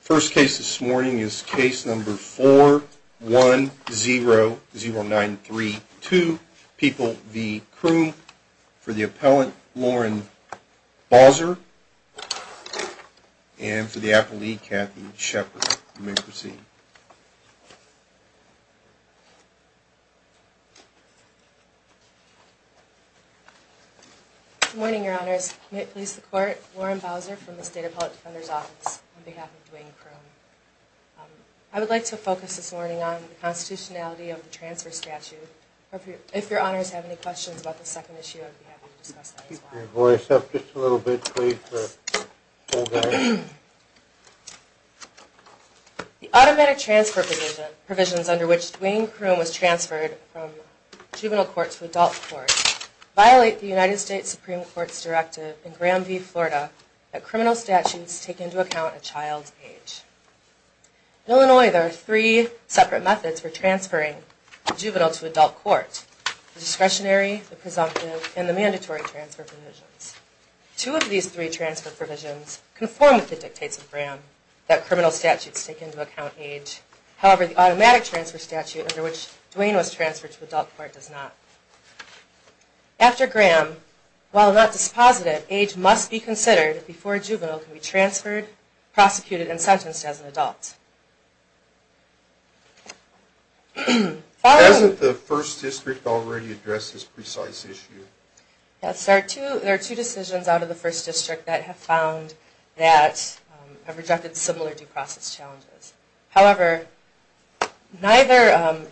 First case this morning is case number 4-1-0-0-9-3-2, People v. Croom. For the appellant, Lauren Bowser. And for the appellee, Kathy Shepard. You may proceed. Good morning, your honors. You may please the court. Lauren Bowser from the State Appellate Defender's Office on behalf of Duane Croom. I would like to focus this morning on the constitutionality of the transfer statute. If your honors have any questions about the second issue, I'd be happy to discuss that as well. Keep your voice up just a little bit, please. The automatic transfer provisions under which Duane Croom was transferred from juvenile court to adult court violate the United States Supreme Court's directive in Graham v. Florida that criminal statutes take into account a child's age. In Illinois, there are three separate methods for transferring a juvenile to adult court, the discretionary, the presumptive, and the mandatory transfer provisions. Two of these three transfer provisions conform with the dictates of Graham that criminal statutes take into account age. However, the automatic transfer statute under which Duane was transferred to adult court does not. After Graham, while not disposited, age must be considered before a juvenile can be transferred, prosecuted, and sentenced as an adult. Hasn't the First District already addressed this precise issue? Yes, there are two decisions out of the First District that have found that have rejected similar due process challenges. However, neither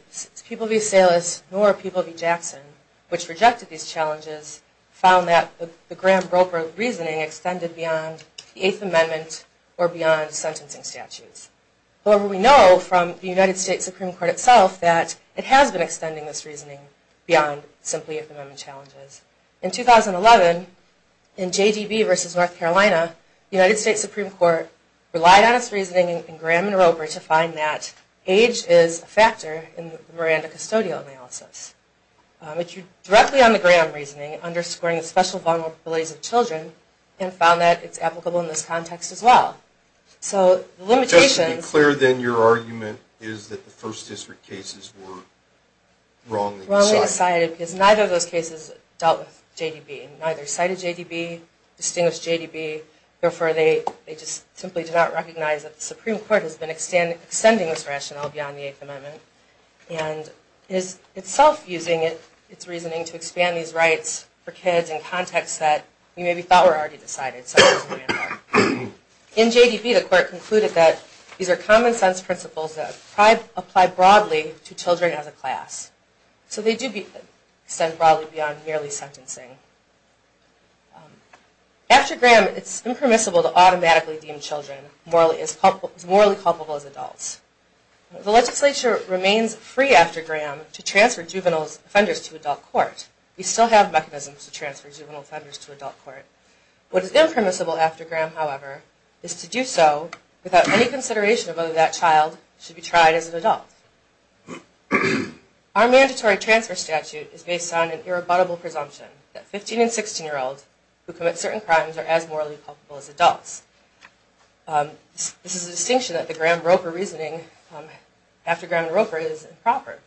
People v. Salus nor People v. Jackson, which rejected these challenges, found that the Graham-Broker reasoning extended beyond the Eighth Amendment or beyond sentencing statutes. However, we know from the United States Supreme Court itself that it has been extending this reasoning beyond simply Eighth Amendment challenges. In 2011, in J.D.B. v. North Carolina, the United States Supreme Court relied on its reasoning in Graham and Roper to find that age is a factor in the Miranda custodial analysis. It drew directly on the Graham reasoning, underscoring the special vulnerabilities of children, and found that it's applicable in this context as well. Just to be clear, then, your argument is that the First District cases were wrongly decided? Wrongly decided, because neither of those cases dealt with J.D.B. Neither cited J.D.B., distinguished J.D.B. Therefore, they just simply did not recognize that the Supreme Court has been extending this rationale beyond the Eighth Amendment and is itself using its reasoning to expand these rights for kids in contexts that we maybe thought were already decided. In J.D.B., the court concluded that these are common sense principles that apply broadly to children as a class. So they do extend broadly beyond merely sentencing. After Graham, it's impermissible to automatically deem children morally culpable as adults. The legislature remains free after Graham to transfer juvenile offenders to adult court. We still have mechanisms to transfer juvenile offenders to adult court. What is impermissible after Graham, however, is to do so without any consideration of whether that child should be tried as an adult. Our mandatory transfer statute is based on an irrebuttable presumption that 15- and 16-year-olds who commit certain crimes are as morally culpable as adults. This is a distinction that the Graham-Roper reasoning after Graham and Roper is improper,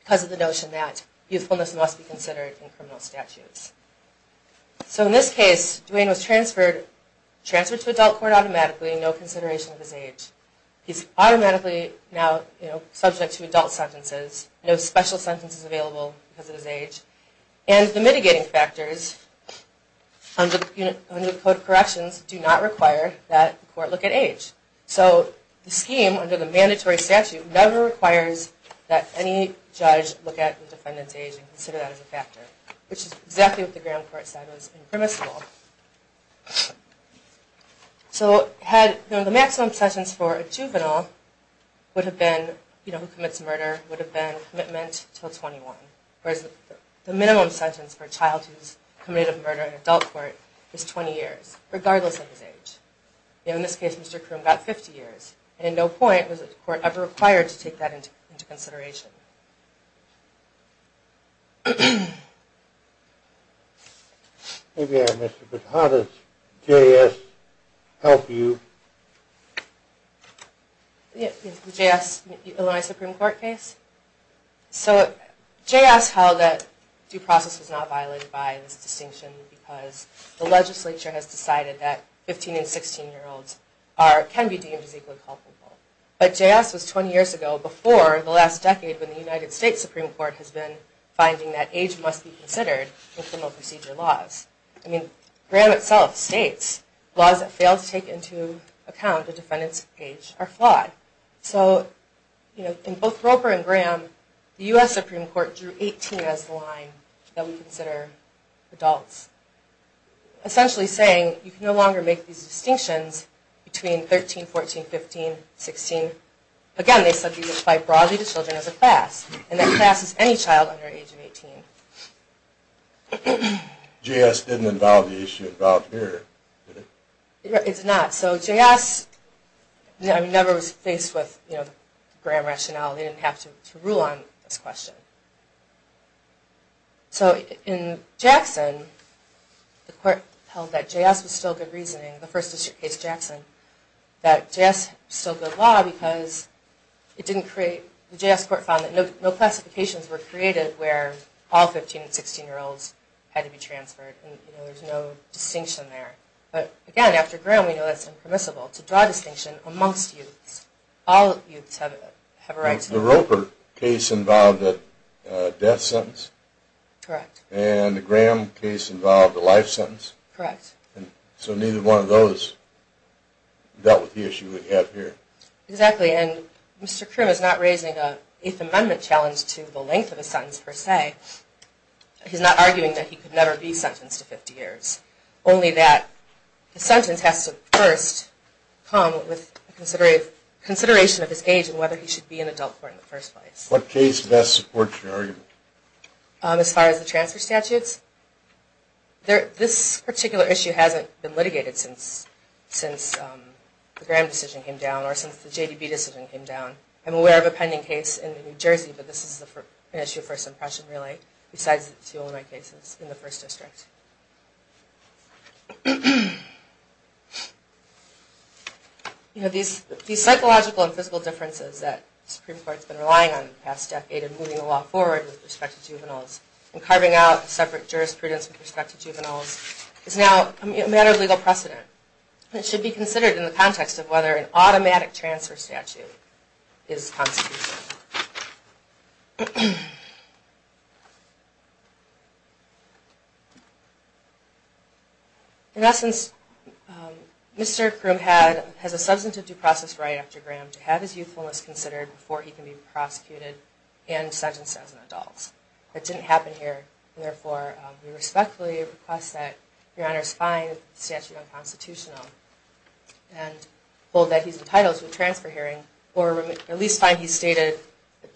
because of the notion that youthfulness must be considered in criminal statutes. So in this case, Dwayne was transferred to adult court automatically, no consideration of his age. He's automatically now subject to adult sentences, no special sentences available because of his age. And the mitigating factors under the Code of Corrections do not require that the court look at age. So the scheme under the mandatory statute never requires that any judge look at the defendant's age and consider that as a factor, which is exactly what the Graham court said was impermissible. So the maximum sentence for a juvenile who commits murder would have been commitment until 21, whereas the minimum sentence for a child who's committed a murder in adult court is 20 years, regardless of his age. In this case, Mr. Croom got 50 years, and at no point was the court ever required to take that into consideration. Maybe I missed it, but how does J.S. help you? The J.S. Illini Supreme Court case? So J.S. held that due process was not violated by this distinction because the legislature has decided that 15- and 16-year-olds can be deemed as equally culpable. But J.S. was 20 years ago, before the last decade, when the United States Supreme Court has been finding that age must be considered in criminal procedure laws. I mean, Graham itself states laws that fail to take into account a defendant's age are flawed. So in both Roper and Graham, the U.S. Supreme Court drew 18 as the line that we consider adults, essentially saying you can no longer make these distinctions between 13, 14, 15, 16. Again, they said these apply broadly to children as a class, and that class is any child under the age of 18. J.S. didn't involve the issue of trial period, did it? It's not. So J.S. never was faced with Graham rationale. They didn't have to rule on this question. So in Jackson, the court held that J.S. was still good reasoning, the first district case Jackson, that J.S. was still good law because the J.S. court found that no classifications were created where all 15- and 16-year-olds had to be transferred. There's no distinction there. But again, after Graham, we know that's impermissible to draw a distinction amongst youths. All youths have a right to vote. The Roper case involved a death sentence. Correct. And the Graham case involved a life sentence. Correct. So neither one of those dealt with the issue we have here. Exactly. And Mr. Krim is not raising an Eighth Amendment challenge to the length of a sentence, per se. He's not arguing that he could never be sentenced to 50 years. Only that the sentence has to first come with consideration of his age and whether he should be in adult court in the first place. What case best supports your argument? As far as the transfer statutes? This particular issue hasn't been litigated since the Graham decision came down or since the J.D.B. decision came down. I'm aware of a pending case in New Jersey, but this is an issue of first impression, really, besides the two Illinois cases in the First District. These psychological and physical differences that the Supreme Court has been relying on in the past decade in moving the law forward with respect to juveniles and carving out separate jurisprudence with respect to juveniles is now a matter of legal precedent. It should be considered in the context of whether an automatic transfer statute is constitutional. In essence, Mr. Krim has a substantive due process right after Graham to have his youthfulness considered before he can be prosecuted and sentenced as an adult. That didn't happen here, and therefore we respectfully request that your Honor's find the statute unconstitutional and hold that he's entitled to a transfer hearing or at least find he's stated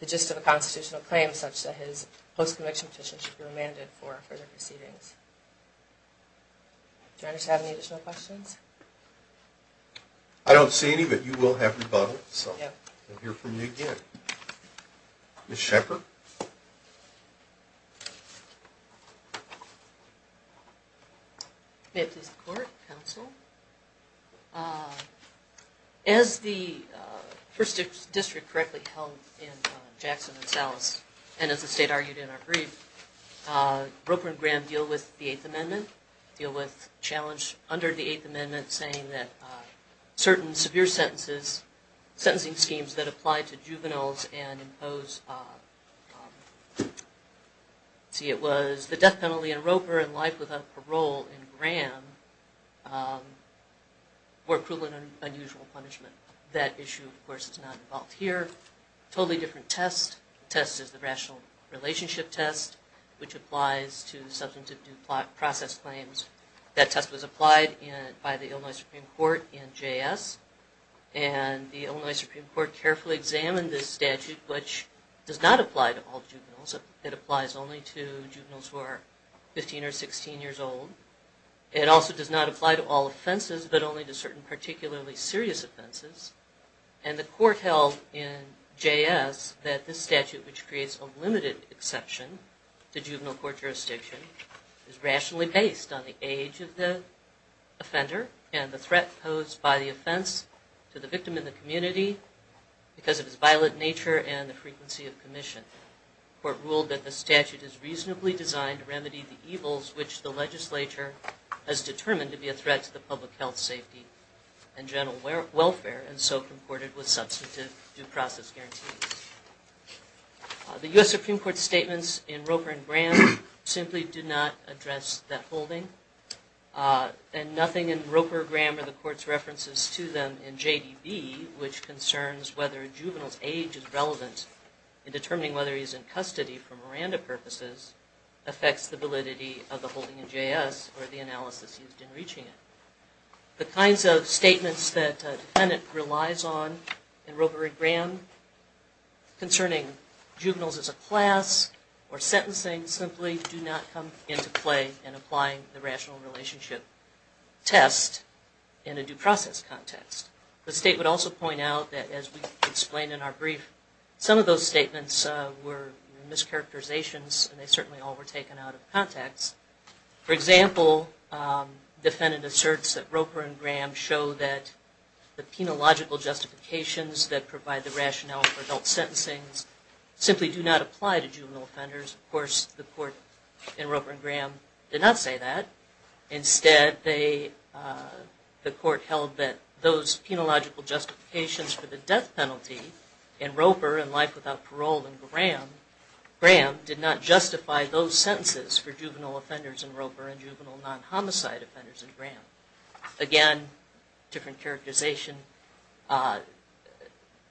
the gist of a constitutional claim such that his post-conviction petition should be remanded for further proceedings. Do your Honors have any additional questions? I don't see any, but you will have rebuttal, so you'll hear from me again. Ms. Shepard. May it please the Court, Counsel. As the First District correctly held in Jackson and Salas, and as the State argued in our brief, Roper and Graham deal with the Eighth Amendment, deal with challenge under the Eighth Amendment saying that certain severe sentencing schemes that apply to juveniles and impose, let's see, it was the death penalty in Roper and life without parole in Graham were cruel and unusual punishment. That issue, of course, is not involved here. Totally different test. The test is the Rational Relationship Test, which applies to substantive due process claims. That test was applied by the Illinois Supreme Court in JS, and the Illinois Supreme Court carefully examined this statute, which does not apply to all juveniles. It applies only to juveniles who are 15 or 16 years old. It also does not apply to all offenses, but only to certain particularly serious offenses. And the Court held in JS that this statute, which creates a limited exception to juvenile court jurisdiction, is rationally based on the age of the offender and the threat posed by the offense to the victim in the community because of its violent nature and the frequency of commission. The Court ruled that the statute is reasonably designed to remedy the evils which the legislature has determined to be a threat to the public health, safety, and general welfare, and so comported with substantive due process guarantees. The U.S. Supreme Court's statements in Roper and Graham simply do not address that holding, and nothing in Roper, Graham, or the Court's references to them in JDB, which concerns whether a juvenile's age is relevant in determining whether he's in custody for Miranda purposes, affects the validity of the holding in JS, or the analysis used in reaching it. The kinds of statements that a defendant relies on in Roper and Graham concerning juveniles as a class or sentencing simply do not come into play in applying the rational relationship test in a due process context. The State would also point out that, as we explained in our brief, some of those statements were mischaracterizations and they certainly all were taken out of context. For example, defendant asserts that Roper and Graham show that the penological justifications that provide the rationale for adult sentencing simply do not apply to juvenile offenders. Of course, the Court in Roper and Graham did not say that. Instead, the Court held that those penological justifications for the death penalty in Roper, and life without parole in Graham, did not justify those sentences for juvenile offenders in Roper and juvenile non-homicide offenders in Graham. Again, different characterization.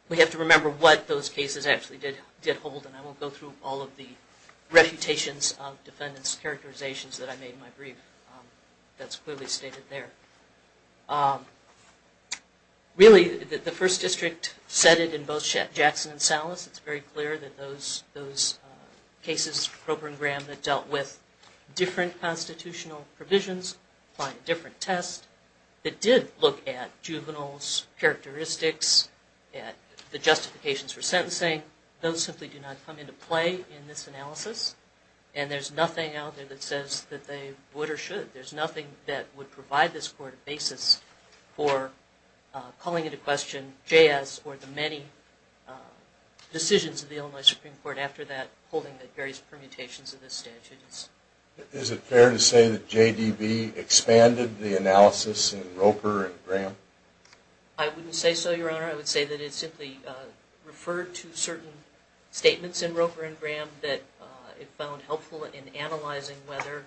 We have to remember what those cases actually did hold, and I won't go through all of the refutations of defendants' characterizations that I made in my brief. That's clearly stated there. Really, the First District said it in both Jackson and Salas. It's very clear that those cases, Roper and Graham, that dealt with different constitutional provisions, applied a different test, that did look at juveniles' characteristics, at the justifications for sentencing, those simply do not come into play in this analysis, and there's nothing out there that says that they would or should. There's nothing that would provide this Court a basis for calling into question J.S. or the many decisions of the Illinois Supreme Court after that, holding the various permutations of this statute. Is it fair to say that J.D.B. expanded the analysis in Roper and Graham? I wouldn't say so, Your Honor. I would say that it simply referred to certain statements in Roper and Graham that it found helpful in analyzing whether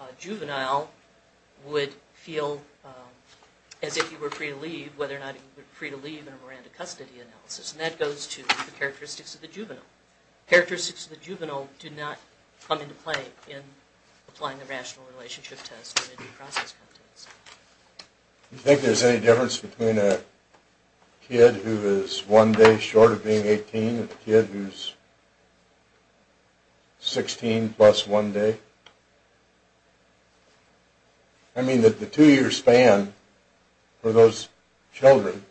a juvenile would feel as if he were free to leave, whether or not he would be free to leave in a Miranda custody analysis, and that goes to the characteristics of the juvenile. Characteristics of the juvenile do not come into play in applying the Rational Relationship Test or any process competence. Do you think there's any difference between a kid who is one day short of being 18 and a kid who is 16 plus one day? I mean, the two-year span for those children,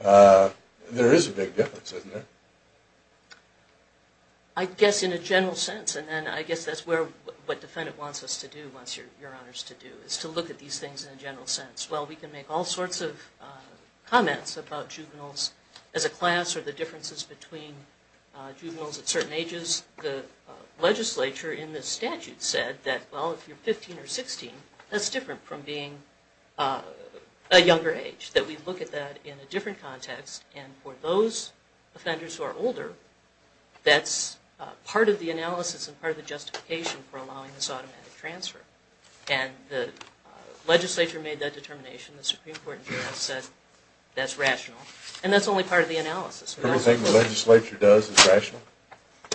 there is a big difference, isn't there? I guess in a general sense, and then I guess that's what defendant wants us to do, wants Your Honors to do, is to look at these things in a general sense. Well, we can make all sorts of comments about juveniles as a class or the differences between juveniles at certain ages. The legislature in the statute said that, well, if you're 15 or 16, that's different from being a younger age, that we look at that in a different context, and for those offenders who are older, that's part of the analysis and part of the justification for allowing this automatic transfer. And the legislature made that determination. The Supreme Court in general said that's rational, and that's only part of the analysis. Everything the legislature does is rational?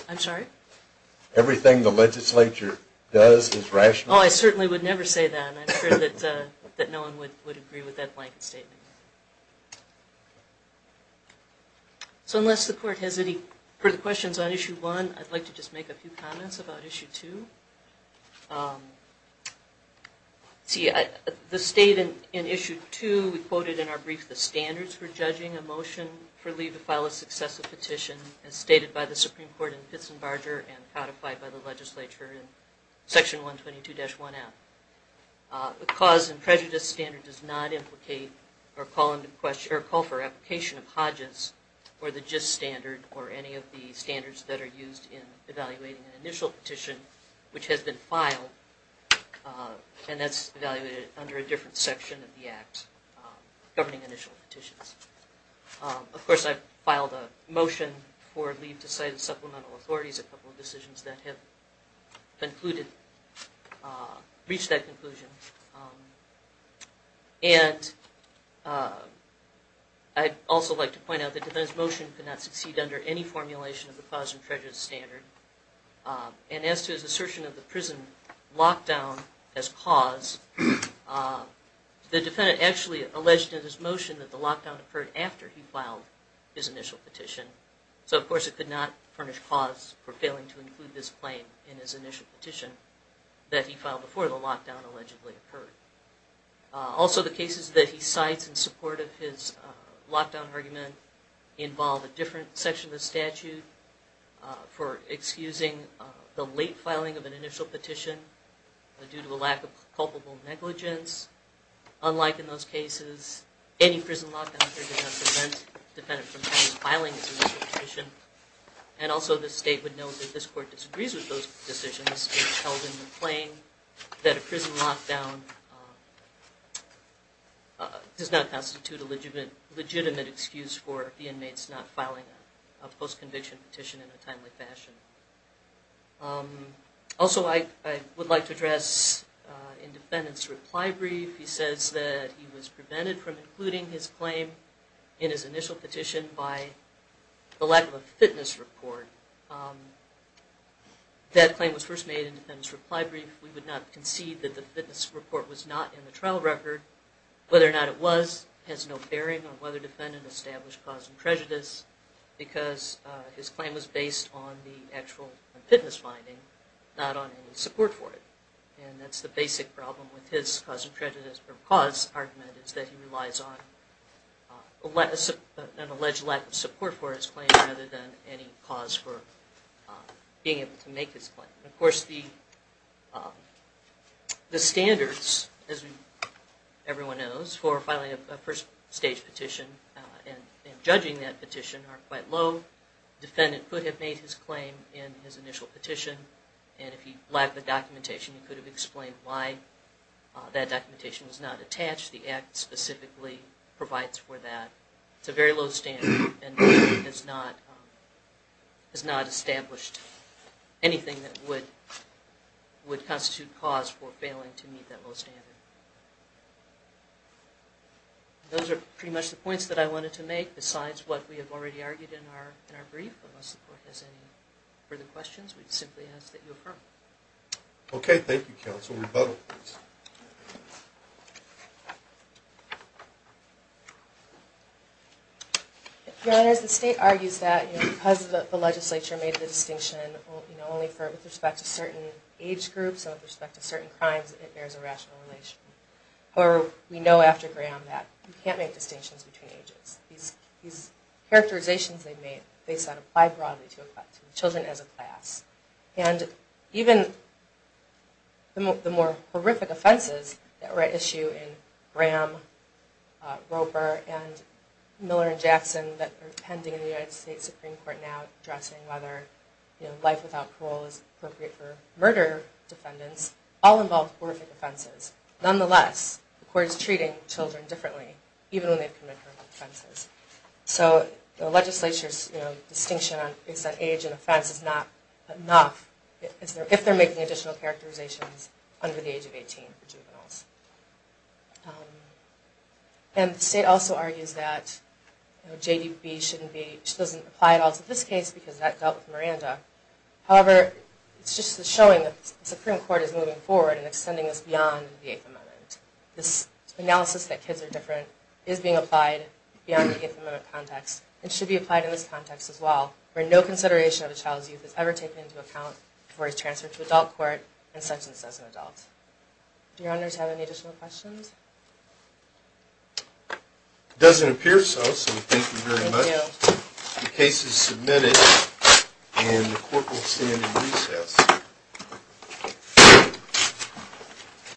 I'm sorry? Everything the legislature does is rational? Oh, I certainly would never say that, and I'm sure that no one would agree with that blanket statement. So unless the Court has any further questions on Issue 1, I'd like to just make a few comments about Issue 2. See, the state in Issue 2, we quoted in our brief the standards for judging a motion for leave to file a successive petition, as stated by the Supreme Court in Pitts and Barger and codified by the legislature in Section 122-1F. The cause and prejudice standard does not implicate or call for application of Hodges or the gist standard or any of the standards that are used in evaluating an initial petition which has been filed, and that's evaluated under a different section of the Act governing initial petitions. Of course, I've filed a motion for leave to cite supplemental authorities, a couple of decisions that have reached that conclusion. And I'd also like to point out that the defendant's motion could not succeed under any formulation of the cause and prejudice standard, and as to his assertion of the prison lockdown as cause, the defendant actually alleged in his motion that the lockdown occurred after he filed his initial petition. So of course it could not furnish cause for failing to include this claim in his initial petition that he filed before the lockdown allegedly occurred. Also the cases that he cites in support of his lockdown argument involve a different section of the statute for excusing the late filing of an initial petition due to a lack of culpable negligence. Unlike in those cases, any prison lockdown occurred did not prevent the defendant from filing his initial petition, and also the state would know that this court disagrees with those decisions. It's held in the claim that a prison lockdown does not constitute a legitimate excuse for the inmates not filing a post-conviction petition in a timely fashion. Also I would like to address the defendant's reply brief. He says that he was prevented from including his claim in his initial petition by the lack of a fitness report. That claim was first made in the defendant's reply brief. We would not concede that the fitness report was not in the trial record. Whether or not it was has no bearing on whether the defendant established cause and prejudice because his claim was based on the actual fitness finding, not on any support for it. And that's the basic problem with his cause and prejudice, or cause argument, is that he relies on an alleged lack of support for his claim rather than any cause for being able to make his claim. Of course the standards, as everyone knows, for filing a first stage petition and judging that petition are quite low. The defendant could have made his claim in his initial petition, and if he lacked the documentation he could have explained why that documentation was not attached. The Act specifically provides for that. It's a very low standard and has not established anything that would constitute cause for failing to meet that low standard. Those are pretty much the points that I wanted to make besides what we have already argued in our brief. Unless the court has any further questions, we simply ask that you affirm. Okay, thank you counsel. Rebuttal please. Your Honors, the state argues that because the legislature made the distinction only with respect to certain age groups and with respect to certain crimes, it bears a rational relation. However, we know after Graham that you can't make distinctions between ages. These characterizations they made, they said, apply broadly to children as a class. And even the more horrific offenses that were at issue in Graham, Roper, and Miller and Jackson that are pending in the United States Supreme Court now, whether life without parole is appropriate for murder defendants, all involve horrific offenses. Nonetheless, the court is treating children differently, even when they've committed horrific offenses. So the legislature's distinction on age and offense is not enough if they're making additional characterizations under the age of 18 for juveniles. And the state also argues that JDB doesn't apply at all to this case because that dealt with Miranda. However, it's just a showing that the Supreme Court is moving forward and extending this beyond the Eighth Amendment. This analysis that kids are different is being applied beyond the Eighth Amendment context and should be applied in this context as well, where no consideration of a child's youth is ever taken into account before he's transferred to adult court and sentenced as an adult. Do your honors have any additional questions? It doesn't appear so, so thank you very much. Thank you. The case is submitted, and the court will stand in recess.